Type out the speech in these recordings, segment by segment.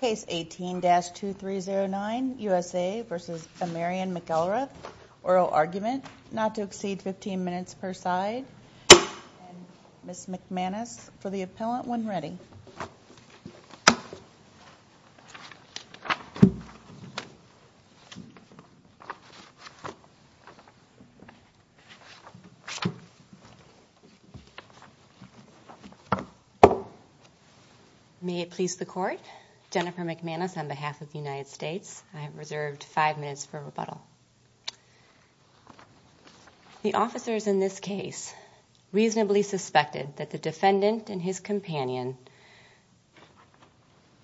Case 18-2309, U.S.A. v. Amarion McElrath, oral argument, not to exceed 15 minutes per side. Ms. McManus for the appellant when ready. May it please the court, Jennifer McManus on behalf of the United States, I have reserved five minutes for rebuttal. The officers in this case reasonably suspected that the defendant and his companion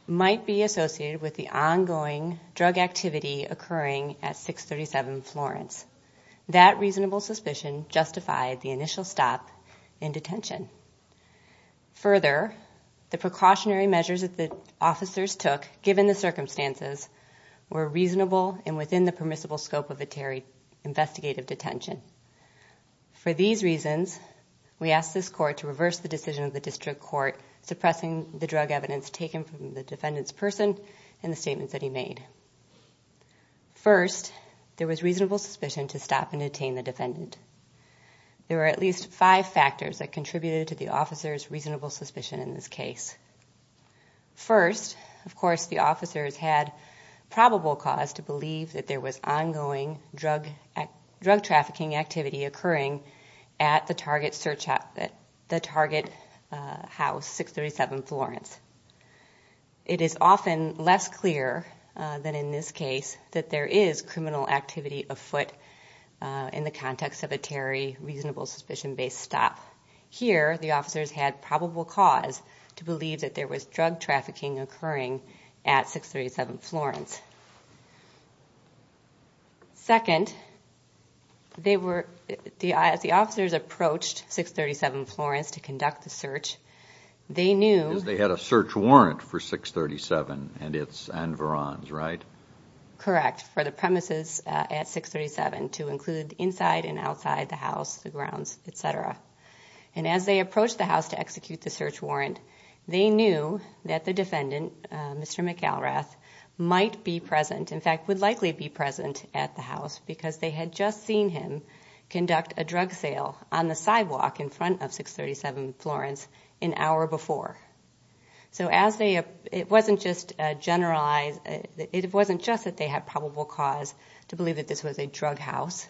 might be associated with the ongoing drug activity occurring at 637 Florence. That reasonable suspicion justified the initial stop in detention. Further, the precautionary measures that the detention. For these reasons, we ask this court to reverse the decision of the district court suppressing the drug evidence taken from the defendant's person and the statements that he made. First, there was reasonable suspicion to stop and detain the defendant. There were at least five factors that contributed to the officer's reasonable suspicion in this case. First, of course, the officers had probable cause to believe that there was ongoing drug trafficking activity occurring at the target house 637 Florence. It is often less clear than in this case that there is criminal activity afoot in the context of a Terry reasonable suspicion based stop. Here, the officers had probable cause to believe that there was drug As the officers approached 637 Florence to conduct the search, they knew... They had a search warrant for 637 and its environs, right? Correct, for the premises at 637 to include inside and outside the house, the grounds, etc. As they approached the house to execute the search warrant, they knew that the defendant, Mr. McAlrath, might be present, in fact, would likely be present at the house because they had just seen him conduct a drug sale on the sidewalk in front of 637 Florence an hour before. It wasn't just that they had probable cause to believe that this was a drug house.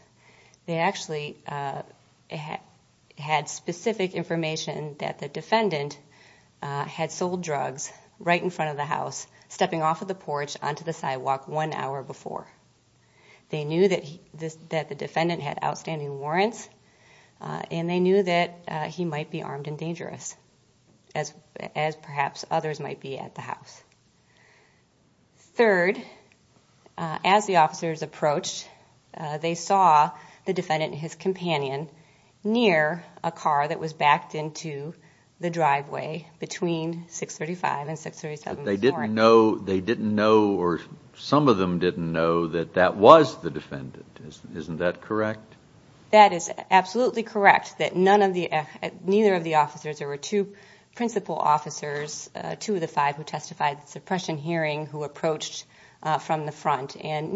They actually had specific information that the defendant had sold drugs right in front of the house, stepping off of the porch onto the sidewalk one hour before. They knew that the defendant had outstanding warrants and they knew that he might be armed and dangerous, as perhaps others might be at the house. Third, as the officers approached, they saw the defendant and his companion near a car that was backed into the driveway between 635 and 637 Florence. They didn't know, or some of them didn't know, that that was the defendant. Isn't that correct? That is absolutely correct, that neither of the officers, there were two principal officers, two of the five who testified at the suppression hearing who approached from the front, and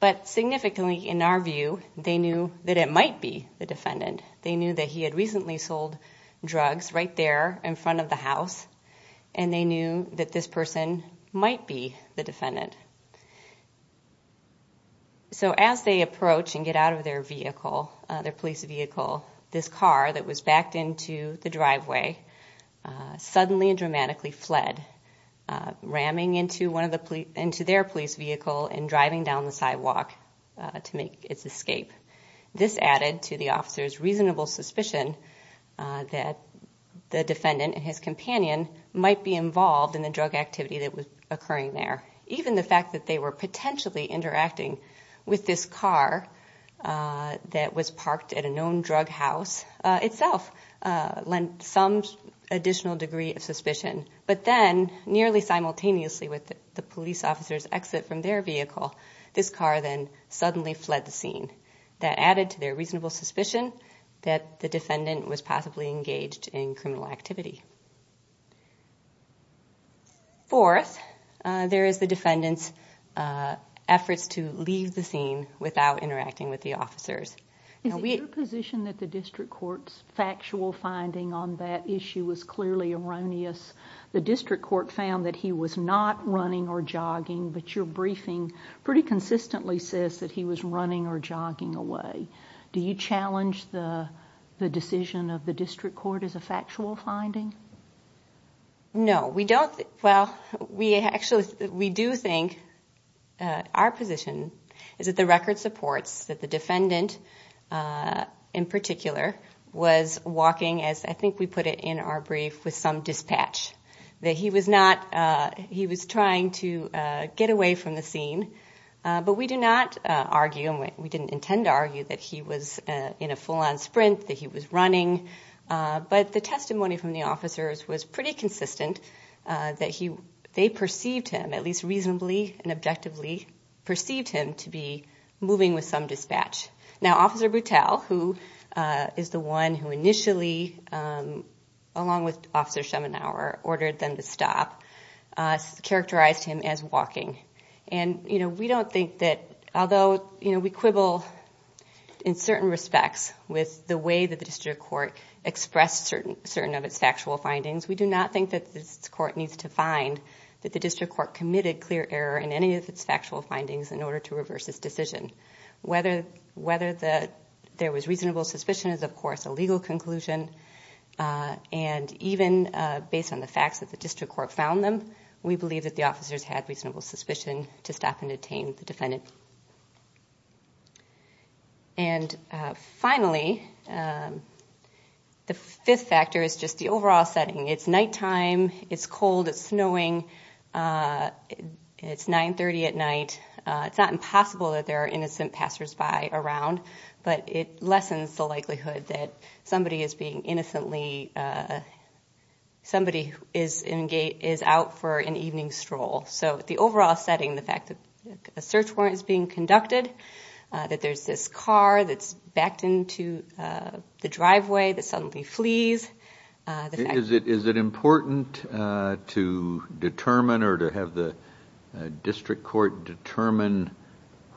But significantly, in our view, they knew that it might be the defendant. They knew that he had recently sold drugs right there in front of the house and they knew that this person might be the defendant. So as they approach and get out of their vehicle, their police vehicle, this car that and driving down the sidewalk to make its escape. This added to the officer's reasonable suspicion that the defendant and his companion might be involved in the drug activity that was occurring there. Even the fact that they were potentially interacting with this car that was parked at a known drug house itself lent some additional degree of suspicion. But then, nearly simultaneously with the police officer's exit from their vehicle, this car then suddenly fled the scene. That added to their reasonable suspicion that the defendant was possibly engaged in criminal activity. Fourth, there is the defendant's efforts to leave the scene without interacting with the officers. Is it your position that the district court's factual finding on that issue was clearly erroneous? The district court found that he was not running or jogging, but your briefing pretty consistently says that he was running or jogging away. Do you challenge the decision of the district court as a factual finding? No, we don't. Well, we actually, we do think our position is that the record supports that the defendant in particular was walking, as I think we put it in our brief, with some dispatch. That he was not, he was trying to get away from the scene. But we do not argue, and we didn't intend to argue, that he was in a full-on sprint, that he was running. But the testimony from the officers was pretty consistent that they perceived him, at least reasonably and Now, Officer Boutel, who is the one who initially, along with Officer Schemenauer, ordered them to stop, characterized him as walking. And we don't think that, although we quibble in certain respects with the way that the district court expressed certain of its factual findings, we do not think that this court needs to find that the district court committed clear error in any of its factual findings in order to reverse this decision. Whether there was reasonable suspicion is, of course, a legal conclusion. And even based on the facts that the district court found them, we believe that the officers had reasonable suspicion to stop and detain the defendant. And finally, the fifth factor is just the overall setting. It's nighttime, it's cold, it's snowing, it's 930 at night. It's not impossible that there are innocent passersby around, but it lessens the likelihood that somebody is being innocently, somebody is out for an evening stroll. So the overall setting, the fact that a search warrant is being conducted, that there's this car that's backed into the driveway that suddenly flees. Is it important to determine or to have the district court determine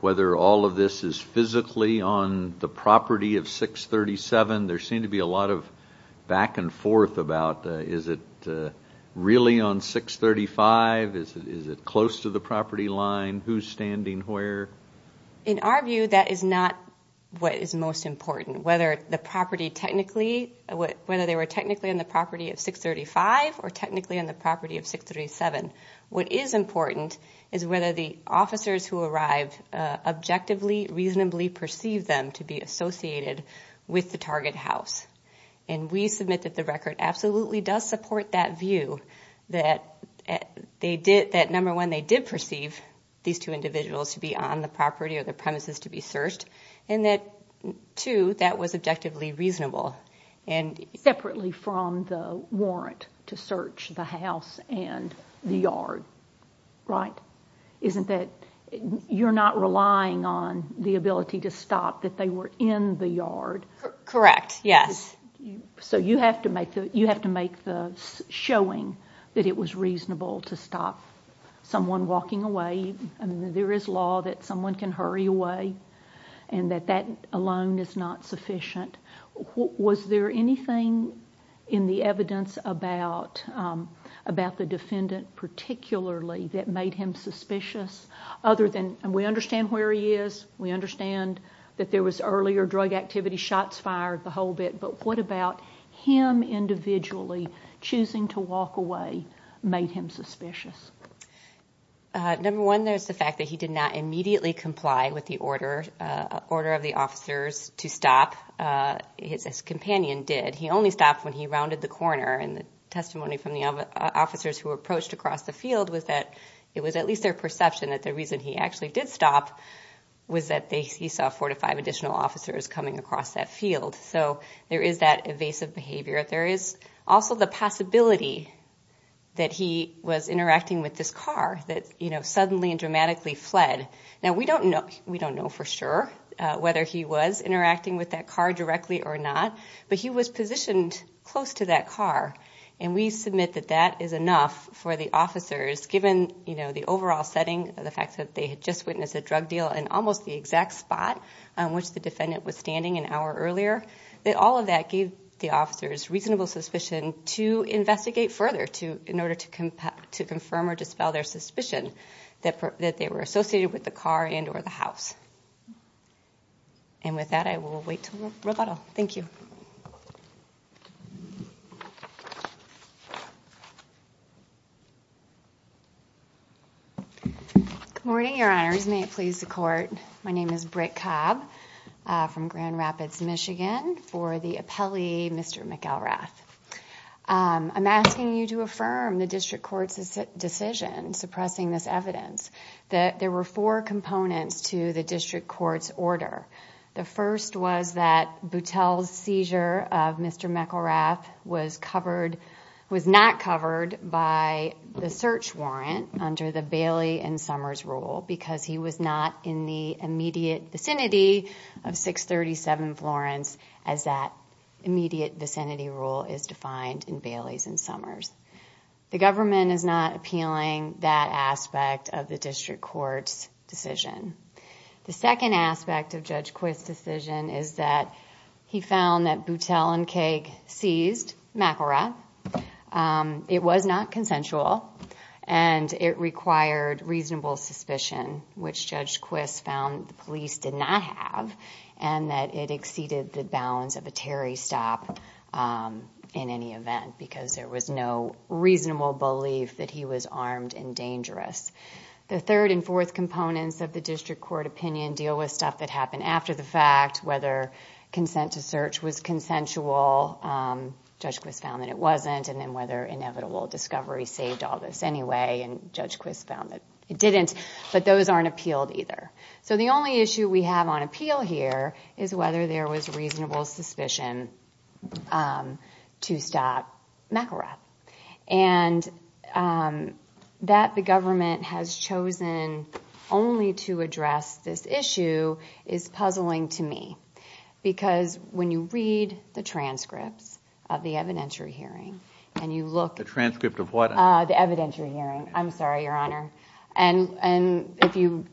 whether all of this is physically on the property of 637? There seems to be a lot of back and forth about is it really on 635? Is it close to the property line? Who's standing where? In our view, that is not what is most important. Whether they were technically on the property of 635 or technically on the property of 637. What is important is whether the officers who arrived objectively, reasonably perceived them to be associated with the target house. And we submit that the record absolutely does support that view, that number one, they did perceive these two individuals to be on the property or the premises to be searched, and that two, that was objectively reasonable. Separately from the warrant to search the house and the yard, right? Isn't that, you're not relying on the ability to stop that they were in the yard? Correct, yes. So you have to make the showing that it was reasonable to stop someone walking away. There is law that someone can hurry away, and that that alone is not sufficient. Was there anything in the evidence about the defendant particularly that made him suspicious? Other than, we understand where he is, we understand that there was earlier drug activity, shots fired, the whole bit, but what about him individually choosing to walk away made him suspicious? Number one, there's the fact that he did not immediately comply with the order of the officers to stop, his companion did. He only stopped when he rounded the corner, and the testimony from the officers who approached across the field was that it was at least their perception that the reason he actually did stop was that he saw four to five additional officers coming across that field. So there is that evasive behavior. There is also the possibility that he was interacting with this car that suddenly and dramatically fled. Now we don't know for sure whether he was interacting with that car directly or not, but he was positioned close to that car, and we submit that that is enough for the officers given the overall setting of the fact that they had just witnessed a drug deal in almost the exact spot on which the defendant was standing an hour earlier. All of that gave the officers reasonable suspicion to investigate further in order to confirm or dispel their suspicion that they were associated with the car and or the house. And with that, I will wait until Roboto. Thank you. Good morning, Your Honors. May it please the Court. My name is Britt Cobb from Grand Rapids, Michigan, for the appellee, Mr. McElrath. I'm asking you to affirm the district court's decision suppressing this evidence that there were four components to the district court's order. The first was that Boutel's seizure of Mr. McElrath was not covered by the search warrant under the Bailey and Summers rule because he was not in the immediate vicinity of 637 Florence as that immediate vicinity rule is defined in Bailey's and Summers. The government is not appealing that aspect of the district court's decision. The second aspect of Judge Quist's decision is that he found that Boutel and Keg seized McElrath. It was not consensual, and it required reasonable suspicion, which Judge Quist found the police did not have, and that it exceeded the bounds of a Terry stop in any event because there was no reasonable belief that he was armed and dangerous. The third and fourth components of the district court opinion deal with stuff that happened after the fact, whether consent to search was consensual, Judge Quist found that it wasn't, and then whether inevitable discovery saved all this anyway, and Judge Quist found that it didn't, but those aren't appealed either. So the only issue we have on appeal here is whether there was reasonable suspicion to stop McElrath. And that the government has chosen only to address this issue is puzzling to me because when you read the transcripts of the evidentiary hearing, and you look at- The transcript of what? The evidentiary hearing. I'm sorry, Your Honor. And if you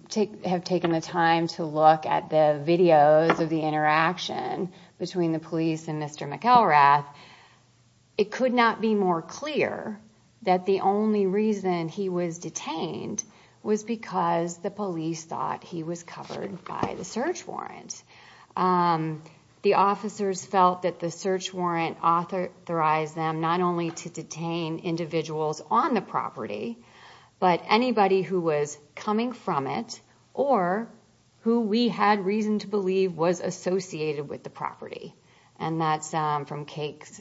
have taken the time to look at the videos of the interaction between the police and Mr. McElrath, it could not be more clear that the only reason he was detained was because the police thought he was covered by the search warrant. The officers felt that the search warrant authorized them not only to detain individuals on the property, but anybody who was coming from it, or who we had reason to believe was associated with the property. And that's from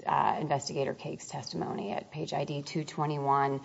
Investigator Cakes' testimony at page ID 221.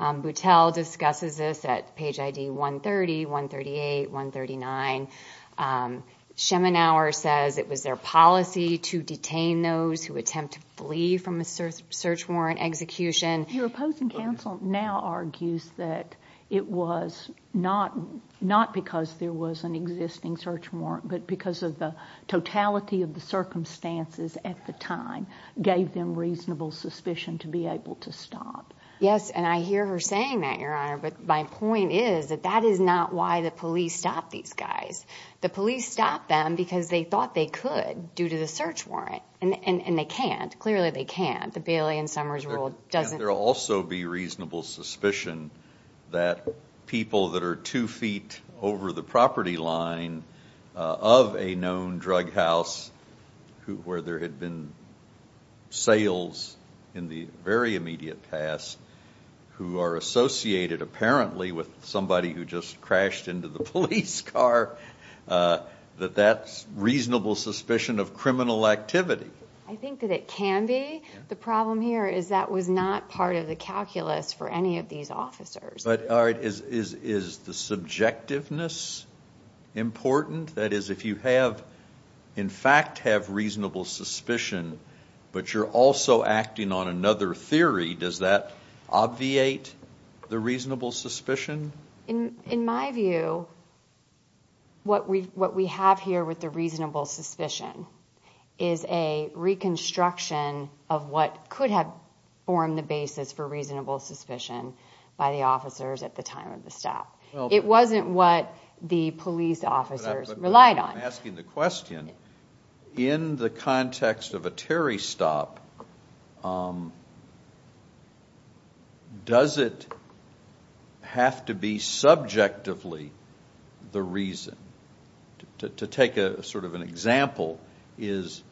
Boutelle discusses this at page ID 130, 138, 139. Schemenauer says it was their policy to detain those who attempt to flee from a search warrant execution. Your opposing counsel now argues that it was not because there was an existing search warrant, but because of the totality of the circumstances at the time gave them reasonable suspicion to be able to stop. Yes, and I hear her saying that, Your Honor, but my point is that that is not why the police stopped these guys. The police stopped them because they thought they could, due to the search warrant. And they can't. Clearly they can't. The Bailey and Summers rule doesn't- There will also be reasonable suspicion that people that are two feet over the property line of a known drug house, where there had been sales in the very immediate past, who are associated apparently with somebody who just crashed into the police car, that that's reasonable suspicion of criminal activity. I think that it can be. The problem here is that was not part of the calculus for any of these officers. But, all right, is the subjectiveness important? That is, if you have in fact have reasonable suspicion, but you're also acting on another theory, does that obviate the reasonable suspicion? In my view, what we have here with the reasonable suspicion is a reconstruction of what could have formed the basis for reasonable suspicion by the officers at the time of the stop. It wasn't what the police officers relied on. I'm asking the question, in the context of a Terry stop, does it have to be subjectively the reason? To take sort of an example is,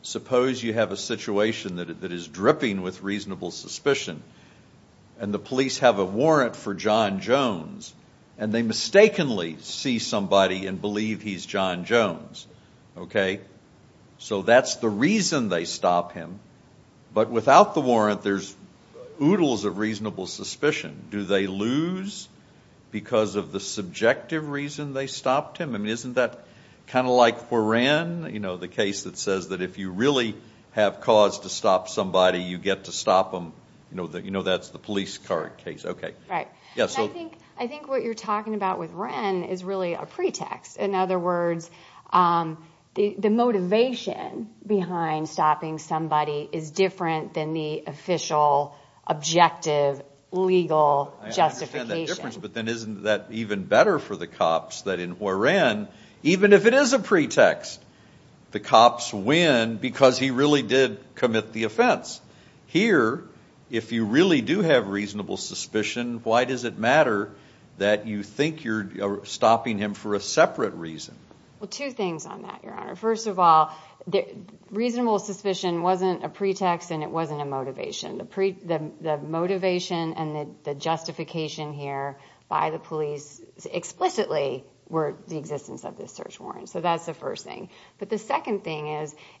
suppose you have a situation that is dripping with reasonable suspicion, and the police have a warrant for John Jones, and they mistakenly see somebody and believe he's John Jones. So that's the reason they stop him, but without the warrant, there's oodles of reasonable suspicion. Do they lose because of the subjective reason they stopped him? I mean, isn't that kind of like Foran, the case that says that if you really have cause to stop somebody, you get to stop them? You know that's the police car case. Right. I think what you're talking about with Wren is really a pretext. In other words, the motivation behind stopping somebody is different than the official, objective, legal justification. I understand that difference, but then isn't that even better for the cops that in Foran, even if it is a pretext, the cops win because he really did commit the offense? Here, if you really do have reasonable suspicion, why does it matter that you think you're stopping him for a separate reason? Well, two things on that, Your Honor. First of all, reasonable suspicion wasn't a pretext and it wasn't a motivation. The motivation and the justification here by the police explicitly were the existence of this search warrant. So that's the first thing. But the second thing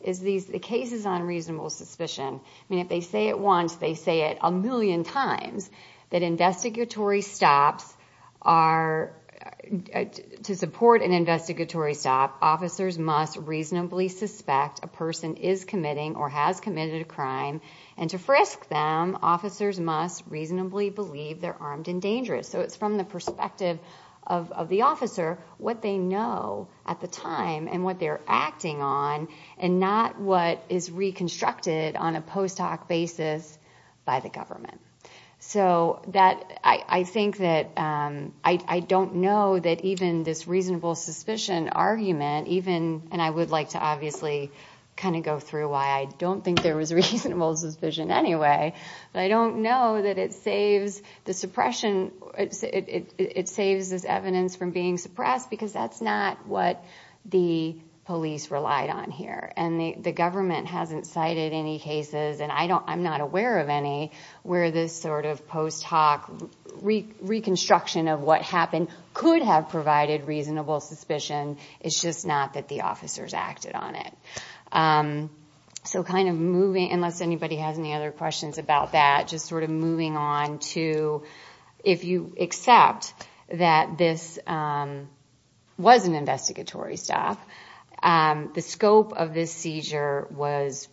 is the cases on reasonable suspicion. I mean, if they say it once, they say it a million times that to support an investigatory stop, officers must reasonably suspect a person is committing or has committed a crime. And to frisk them, officers must reasonably believe they're armed and dangerous. So it's from the perspective of the officer, what they know at the time and what they're acting on, and not what is reconstructed on a post hoc basis by the government. So that I think that I don't know that even this reasonable suspicion argument, even and I would like to obviously kind of go through why I don't think there was a reasonable suspicion anyway. But I don't know that it saves this evidence from being suppressed because that's not what the police relied on here. And the government hasn't cited any cases, and I'm not aware of any, where this sort of post hoc reconstruction of what happened could have provided reasonable suspicion. It's just not that the officers acted on it. So kind of moving, unless anybody has any other questions about that, just sort of moving on to if you accept that this was an investigatory stop, the scope of this seizure was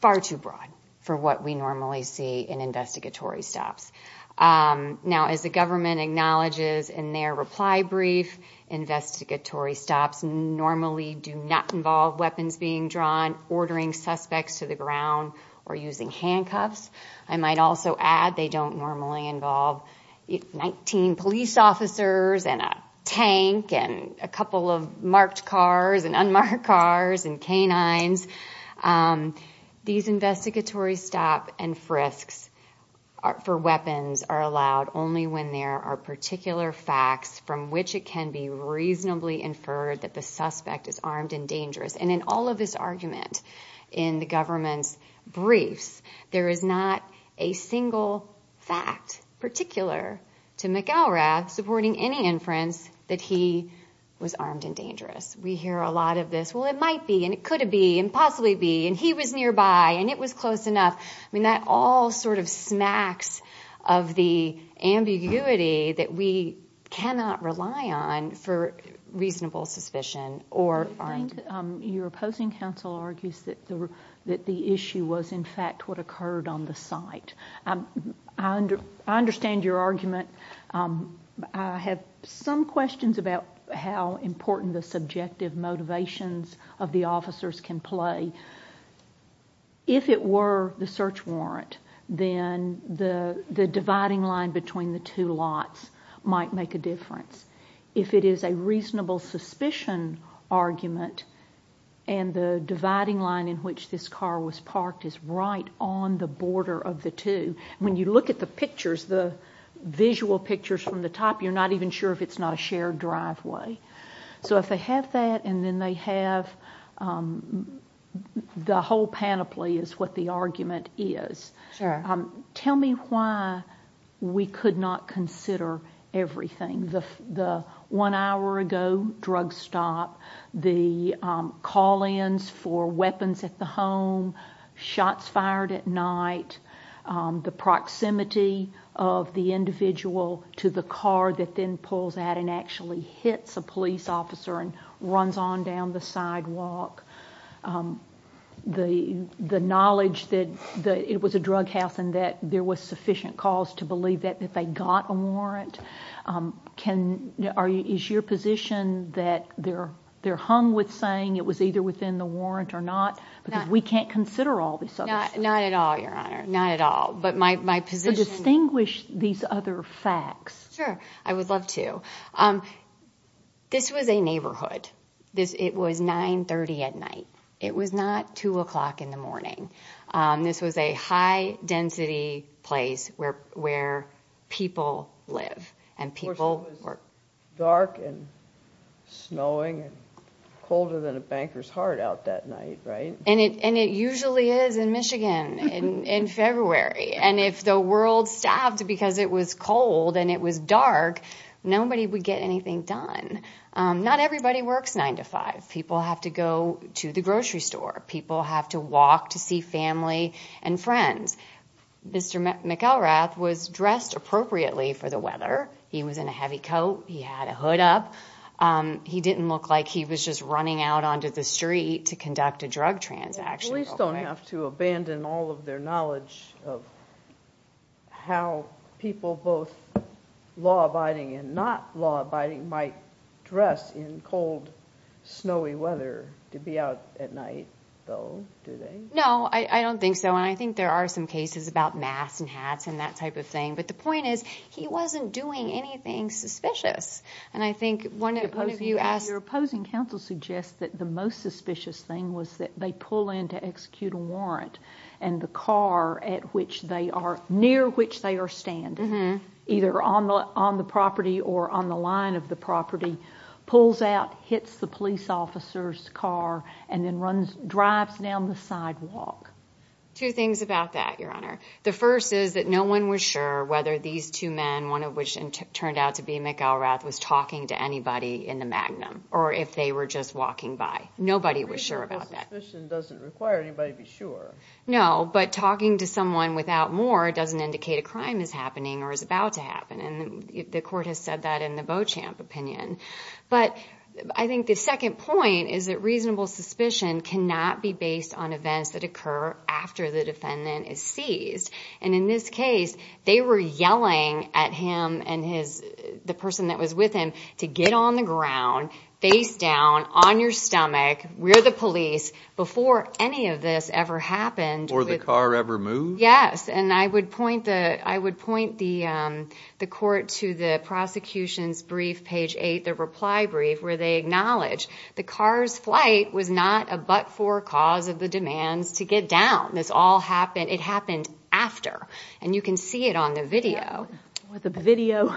far too broad for what we normally see in investigatory stops. Now, as the government acknowledges in their reply brief, investigatory stops normally do not involve weapons being drawn, ordering suspects to the ground, or using handcuffs. I might also add they don't normally involve 19 police officers and a tank and a couple of marked cars and unmarked cars and canines. These investigatory stop and frisks for weapons are allowed only when there are particular facts from which it can be reasonably inferred that the suspect is armed and dangerous. And in all of his argument in the government's briefs, there is not a single fact particular to McElrath supporting any inference that he was armed and dangerous. We hear a lot of this, well, it might be, and it could be, and possibly be, and he was nearby, and it was close enough. I mean, that all sort of smacks of the ambiguity that we cannot rely on for reasonable suspicion. I think your opposing counsel argues that the issue was, in fact, what occurred on the site. I understand your argument. I have some questions about how important the subjective motivations of the officers can play. If it were the search warrant, then the dividing line between the two lots might make a difference. If it is a reasonable suspicion argument, and the dividing line in which this car was parked is right on the border of the two, when you look at the pictures, the visual pictures from the top, you're not even sure if it's not a shared driveway. So if they have that, and then they have the whole panoply is what the argument is. Sure. Tell me why we could not consider everything, the one hour ago drug stop, the call-ins for weapons at the home, shots fired at night, the proximity of the individual to the car that then pulls out and actually hits a police officer and runs on down the sidewalk, the knowledge that it was a drug house and that there was sufficient cause to believe that they got a warrant. Is your position that they're hung with saying it was either within the warrant or not? Not at all, Your Honor, not at all. So distinguish these other facts. Sure, I would love to. This was a neighborhood. It was 9.30 at night. It was not 2 o'clock in the morning. This was a high-density place where people live. Of course it was dark and snowing and colder than a banker's heart out that night, right? And it usually is in Michigan in February. And if the world stopped because it was cold and it was dark, nobody would get anything done. Not everybody works 9 to 5. People have to go to the grocery store. People have to walk to see family and friends. Mr. McElrath was dressed appropriately for the weather. He was in a heavy coat. He had a hood up. He didn't look like he was just running out onto the street to conduct a drug transaction. Police don't have to abandon all of their knowledge of how people both law-abiding and not law-abiding might dress in cold, snowy weather to be out at night, though, do they? No, I don't think so. And I think there are some cases about masks and hats and that type of thing. But the point is he wasn't doing anything suspicious. Your opposing counsel suggests that the most suspicious thing was that they pull in to execute a warrant and the car near which they are standing, either on the property or on the line of the property, pulls out, hits the police officer's car, and then drives down the sidewalk. Two things about that, Your Honor. The first is that no one was sure whether these two men, one of which turned out to be McElrath, was talking to anybody in the Magnum or if they were just walking by. Nobody was sure about that. Reasonable suspicion doesn't require anybody to be sure. No, but talking to someone without more doesn't indicate a crime is happening or is about to happen. And the court has said that in the Beauchamp opinion. But I think the second point is that reasonable suspicion cannot be based on events that occur after the defendant is seized. And in this case, they were yelling at him and the person that was with him to get on the ground, face down, on your stomach, we're the police, before any of this ever happened. Before the car ever moved? Yes. And I would point the court to the prosecution's brief, page 8, the reply brief, where they acknowledge the car's flight was not a but-for cause of the demands to get down. This all happened, it happened after. And you can see it on the video. The video,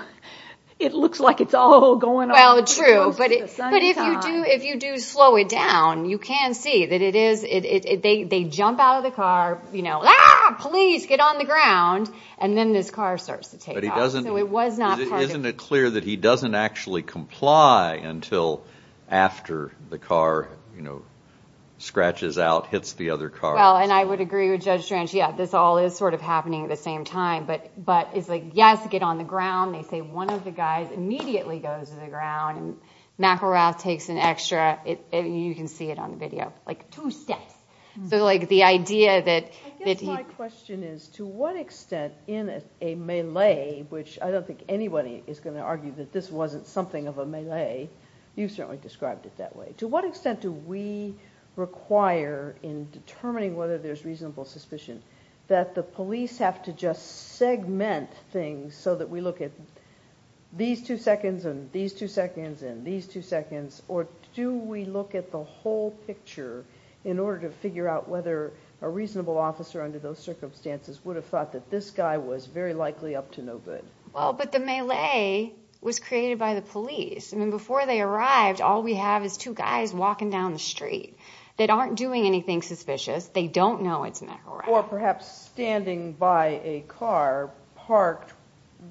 it looks like it's all going on. Well, true. But if you do slow it down, you can see that it is, they jump out of the car, you know, they're yelling, please get on the ground, and then this car starts to take off. Isn't it clear that he doesn't actually comply until after the car, you know, scratches out, hits the other car? Well, and I would agree with Judge Drench, yeah, this all is sort of happening at the same time. But it's like, yes, get on the ground. They say one of the guys immediately goes to the ground. McElrath takes an extra, you can see it on the video, like two steps. I guess my question is, to what extent in a melee, which I don't think anybody is going to argue that this wasn't something of a melee, you've certainly described it that way, to what extent do we require in determining whether there's reasonable suspicion that the police have to just segment things so that we look at these two seconds and these two seconds and these two seconds, or do we look at the whole picture in order to figure out whether a reasonable officer under those circumstances would have thought that this guy was very likely up to no good? Well, but the melee was created by the police. I mean, before they arrived, all we have is two guys walking down the street that aren't doing anything suspicious. They don't know it's McElrath. Or perhaps standing by a car parked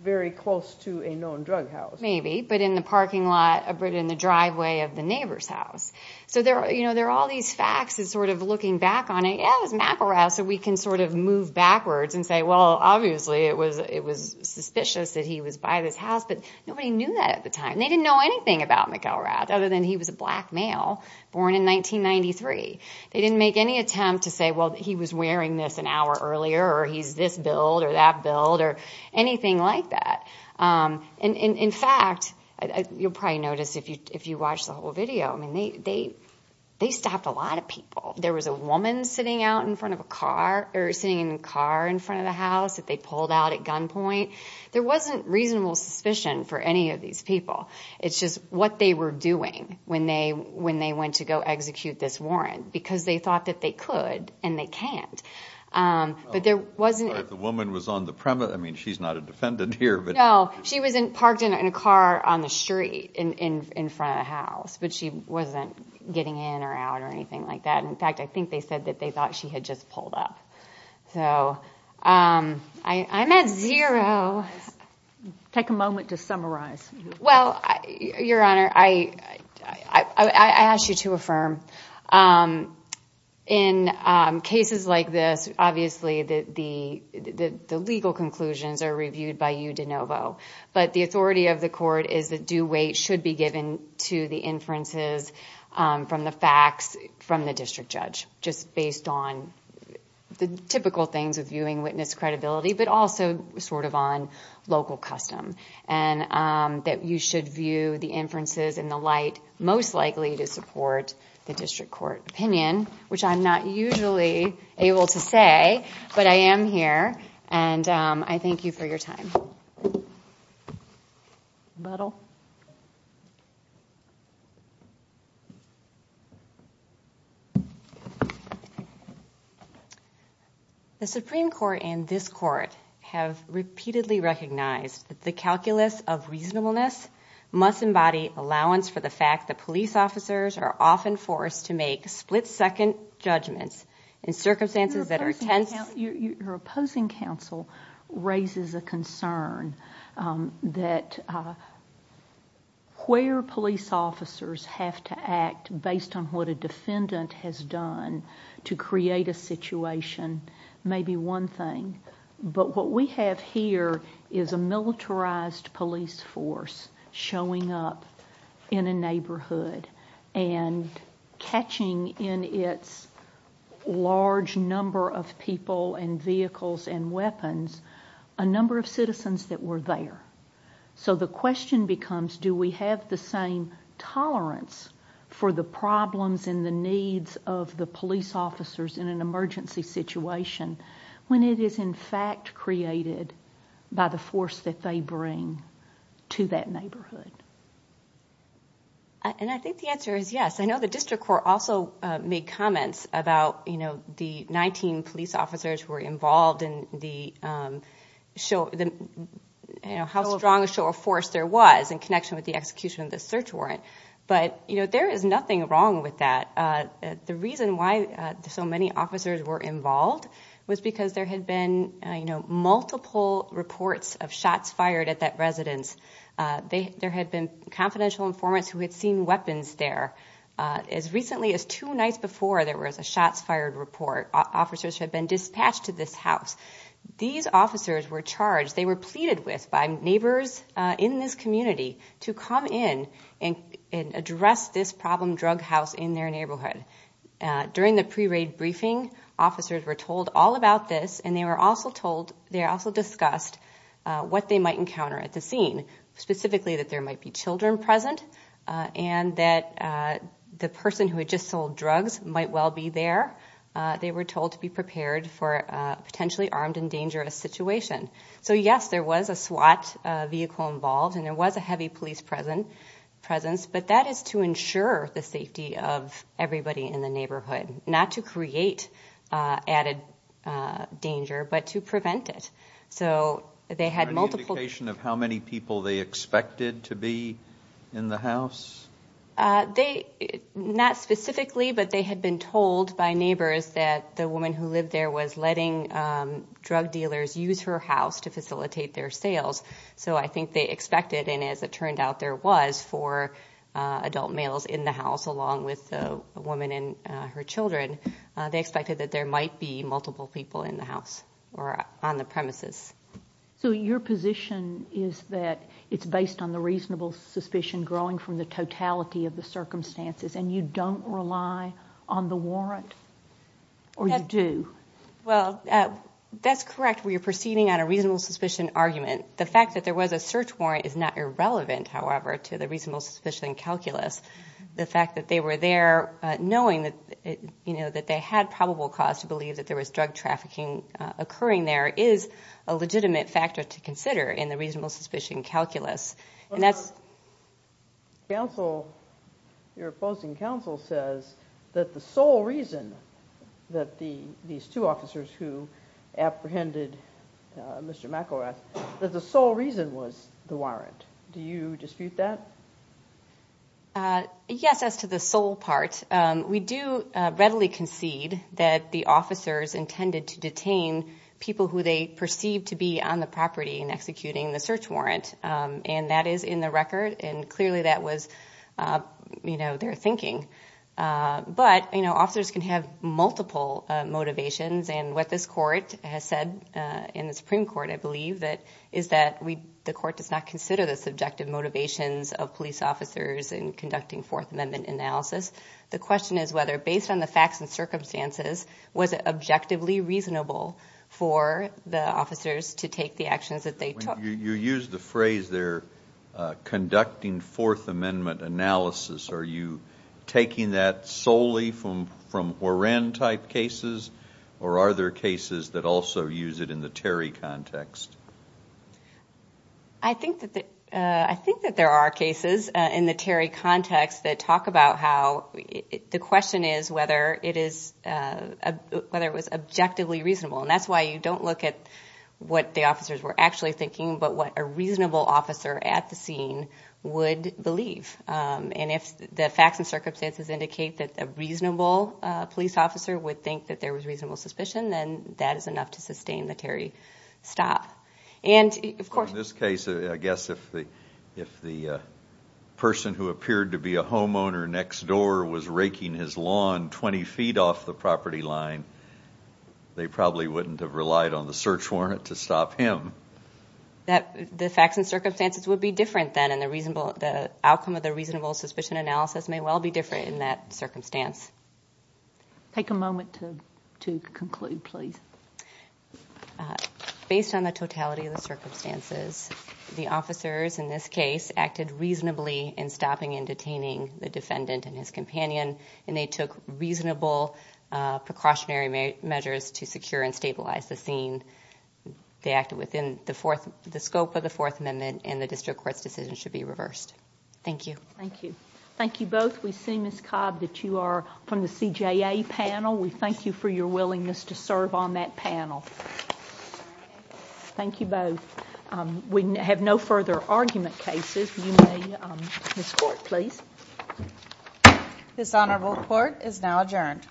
very close to a known drug house. Maybe, but in the parking lot, but in the driveway of the neighbor's house. So there are all these facts that sort of looking back on it, yeah, it was McElrath, so we can sort of move backwards and say, well, obviously it was suspicious that he was by this house, but nobody knew that at the time. They didn't know anything about McElrath other than he was a black male born in 1993. They didn't make any attempt to say, well, he was wearing this an hour earlier, or he's this build or that build or anything like that. And, in fact, you'll probably notice if you watch the whole video, I mean, they stopped a lot of people. There was a woman sitting out in front of a car, or sitting in a car in front of the house that they pulled out at gunpoint. There wasn't reasonable suspicion for any of these people. It's just what they were doing when they went to go execute this warrant, because they thought that they could and they can't. Sorry, the woman was on the premise. I mean, she's not a defendant here. No, she was parked in a car on the street in front of the house, but she wasn't getting in or out or anything like that. In fact, I think they said that they thought she had just pulled up. So I'm at zero. Take a moment to summarize. Well, Your Honor, I ask you to affirm. In cases like this, obviously the legal conclusions are reviewed by you de novo. But the authority of the court is that due weight should be given to the inferences from the facts from the district judge, just based on the typical things of viewing witness credibility, but also sort of on local custom, and that you should view the inferences in the light most likely to support the district court opinion, which I'm not usually able to say, but I am here, and I thank you for your time. The Supreme Court and this court have repeatedly recognized that the calculus of reasonableness must embody allowance for the fact that police officers are often forced to make split-second judgments in circumstances that are tense. Your opposing counsel raises a concern that where police officers have to act based on what a defendant has done to create a situation may be one thing, but what we have here is a militarized police force showing up in a neighborhood and catching in its large number of people and vehicles and weapons a number of citizens that were there. So the question becomes, do we have the same tolerance for the problems and the needs of the police officers in an emergency situation when it is in fact created by the force that they bring to that neighborhood? I think the answer is yes. I know the district court also made comments about the 19 police officers who were involved and how strong a show of force there was in connection with the execution of the search warrant, but there is nothing wrong with that. The reason why so many officers were involved was because there had been multiple reports of shots fired at that residence. There had been confidential informants who had seen weapons there. As recently as two nights before there was a shots fired report, officers had been dispatched to this house. These officers were charged, they were pleaded with by neighbors in this community to come in and address this problem drug house in their neighborhood. During the pre-raid briefing, officers were told all about this and they were also told, they also discussed what they might encounter at the scene, specifically that there might be children present and that the person who had just sold drugs might well be there. They were told to be prepared for a potentially armed and dangerous situation. So yes, there was a SWAT vehicle involved and there was a heavy police presence, but that is to ensure the safety of everybody in the neighborhood, not to create added danger, but to prevent it. So they had multiple... Is there any indication of how many people they expected to be in the house? Not specifically, but they had been told by neighbors that the woman who lived there was letting drug dealers use her house to facilitate their sales. So I think they expected, and as it turned out, there was four adult males in the house along with a woman and her children. They expected that there might be multiple people in the house or on the premises. So your position is that it's based on the reasonable suspicion growing from the totality of the circumstances and you don't rely on the warrant, or you do? Well, that's correct. We are proceeding on a reasonable suspicion argument. The fact that there was a search warrant is not irrelevant, however, to the reasonable suspicion calculus. The fact that they were there knowing that they had probable cause to believe that there was drug trafficking occurring there is a legitimate factor to consider in the reasonable suspicion calculus. Your opposing counsel says that the sole reason that these two officers who apprehended Mr. McElrath, that the sole reason was the warrant. Do you dispute that? Yes, as to the sole part. We do readily concede that the officers intended to detain people who they perceived to be on the property and executing the search warrant, and that is in the record, and clearly that was their thinking. But officers can have multiple motivations, and what this Court has said in the Supreme Court, I believe, is that the Court does not consider the subjective motivations of police officers in conducting Fourth Amendment analysis. The question is whether, based on the facts and circumstances, was it objectively reasonable for the officers to take the actions that they took. You used the phrase there, conducting Fourth Amendment analysis. Are you taking that solely from warrant-type cases or are there cases that also use it in the Terry context? I think that there are cases in the Terry context that talk about how the question is whether it was objectively reasonable, and that's why you don't look at what the officers were actually thinking but what a reasonable officer at the scene would believe. And if the facts and circumstances indicate that a reasonable police officer would think that there was reasonable suspicion, then that is enough to sustain the Terry stop. In this case, I guess if the person who appeared to be a homeowner next door was raking his lawn 20 feet off the property line, they probably wouldn't have relied on the search warrant to stop him. The facts and circumstances would be different then, and the outcome of the reasonable suspicion analysis may well be different in that circumstance. Take a moment to conclude, please. Based on the totality of the circumstances, the officers in this case acted reasonably in stopping and detaining the defendant and his companion, and they took reasonable precautionary measures to secure and stabilize the scene. They acted within the scope of the Fourth Amendment, and the district court's decision should be reversed. Thank you. Thank you. Thank you both. We see, Ms. Cobb, that you are from the CJA panel. We thank you for your willingness to serve on that panel. Thank you both. We have no further argument cases. You may escort, please. This honorable court is now adjourned.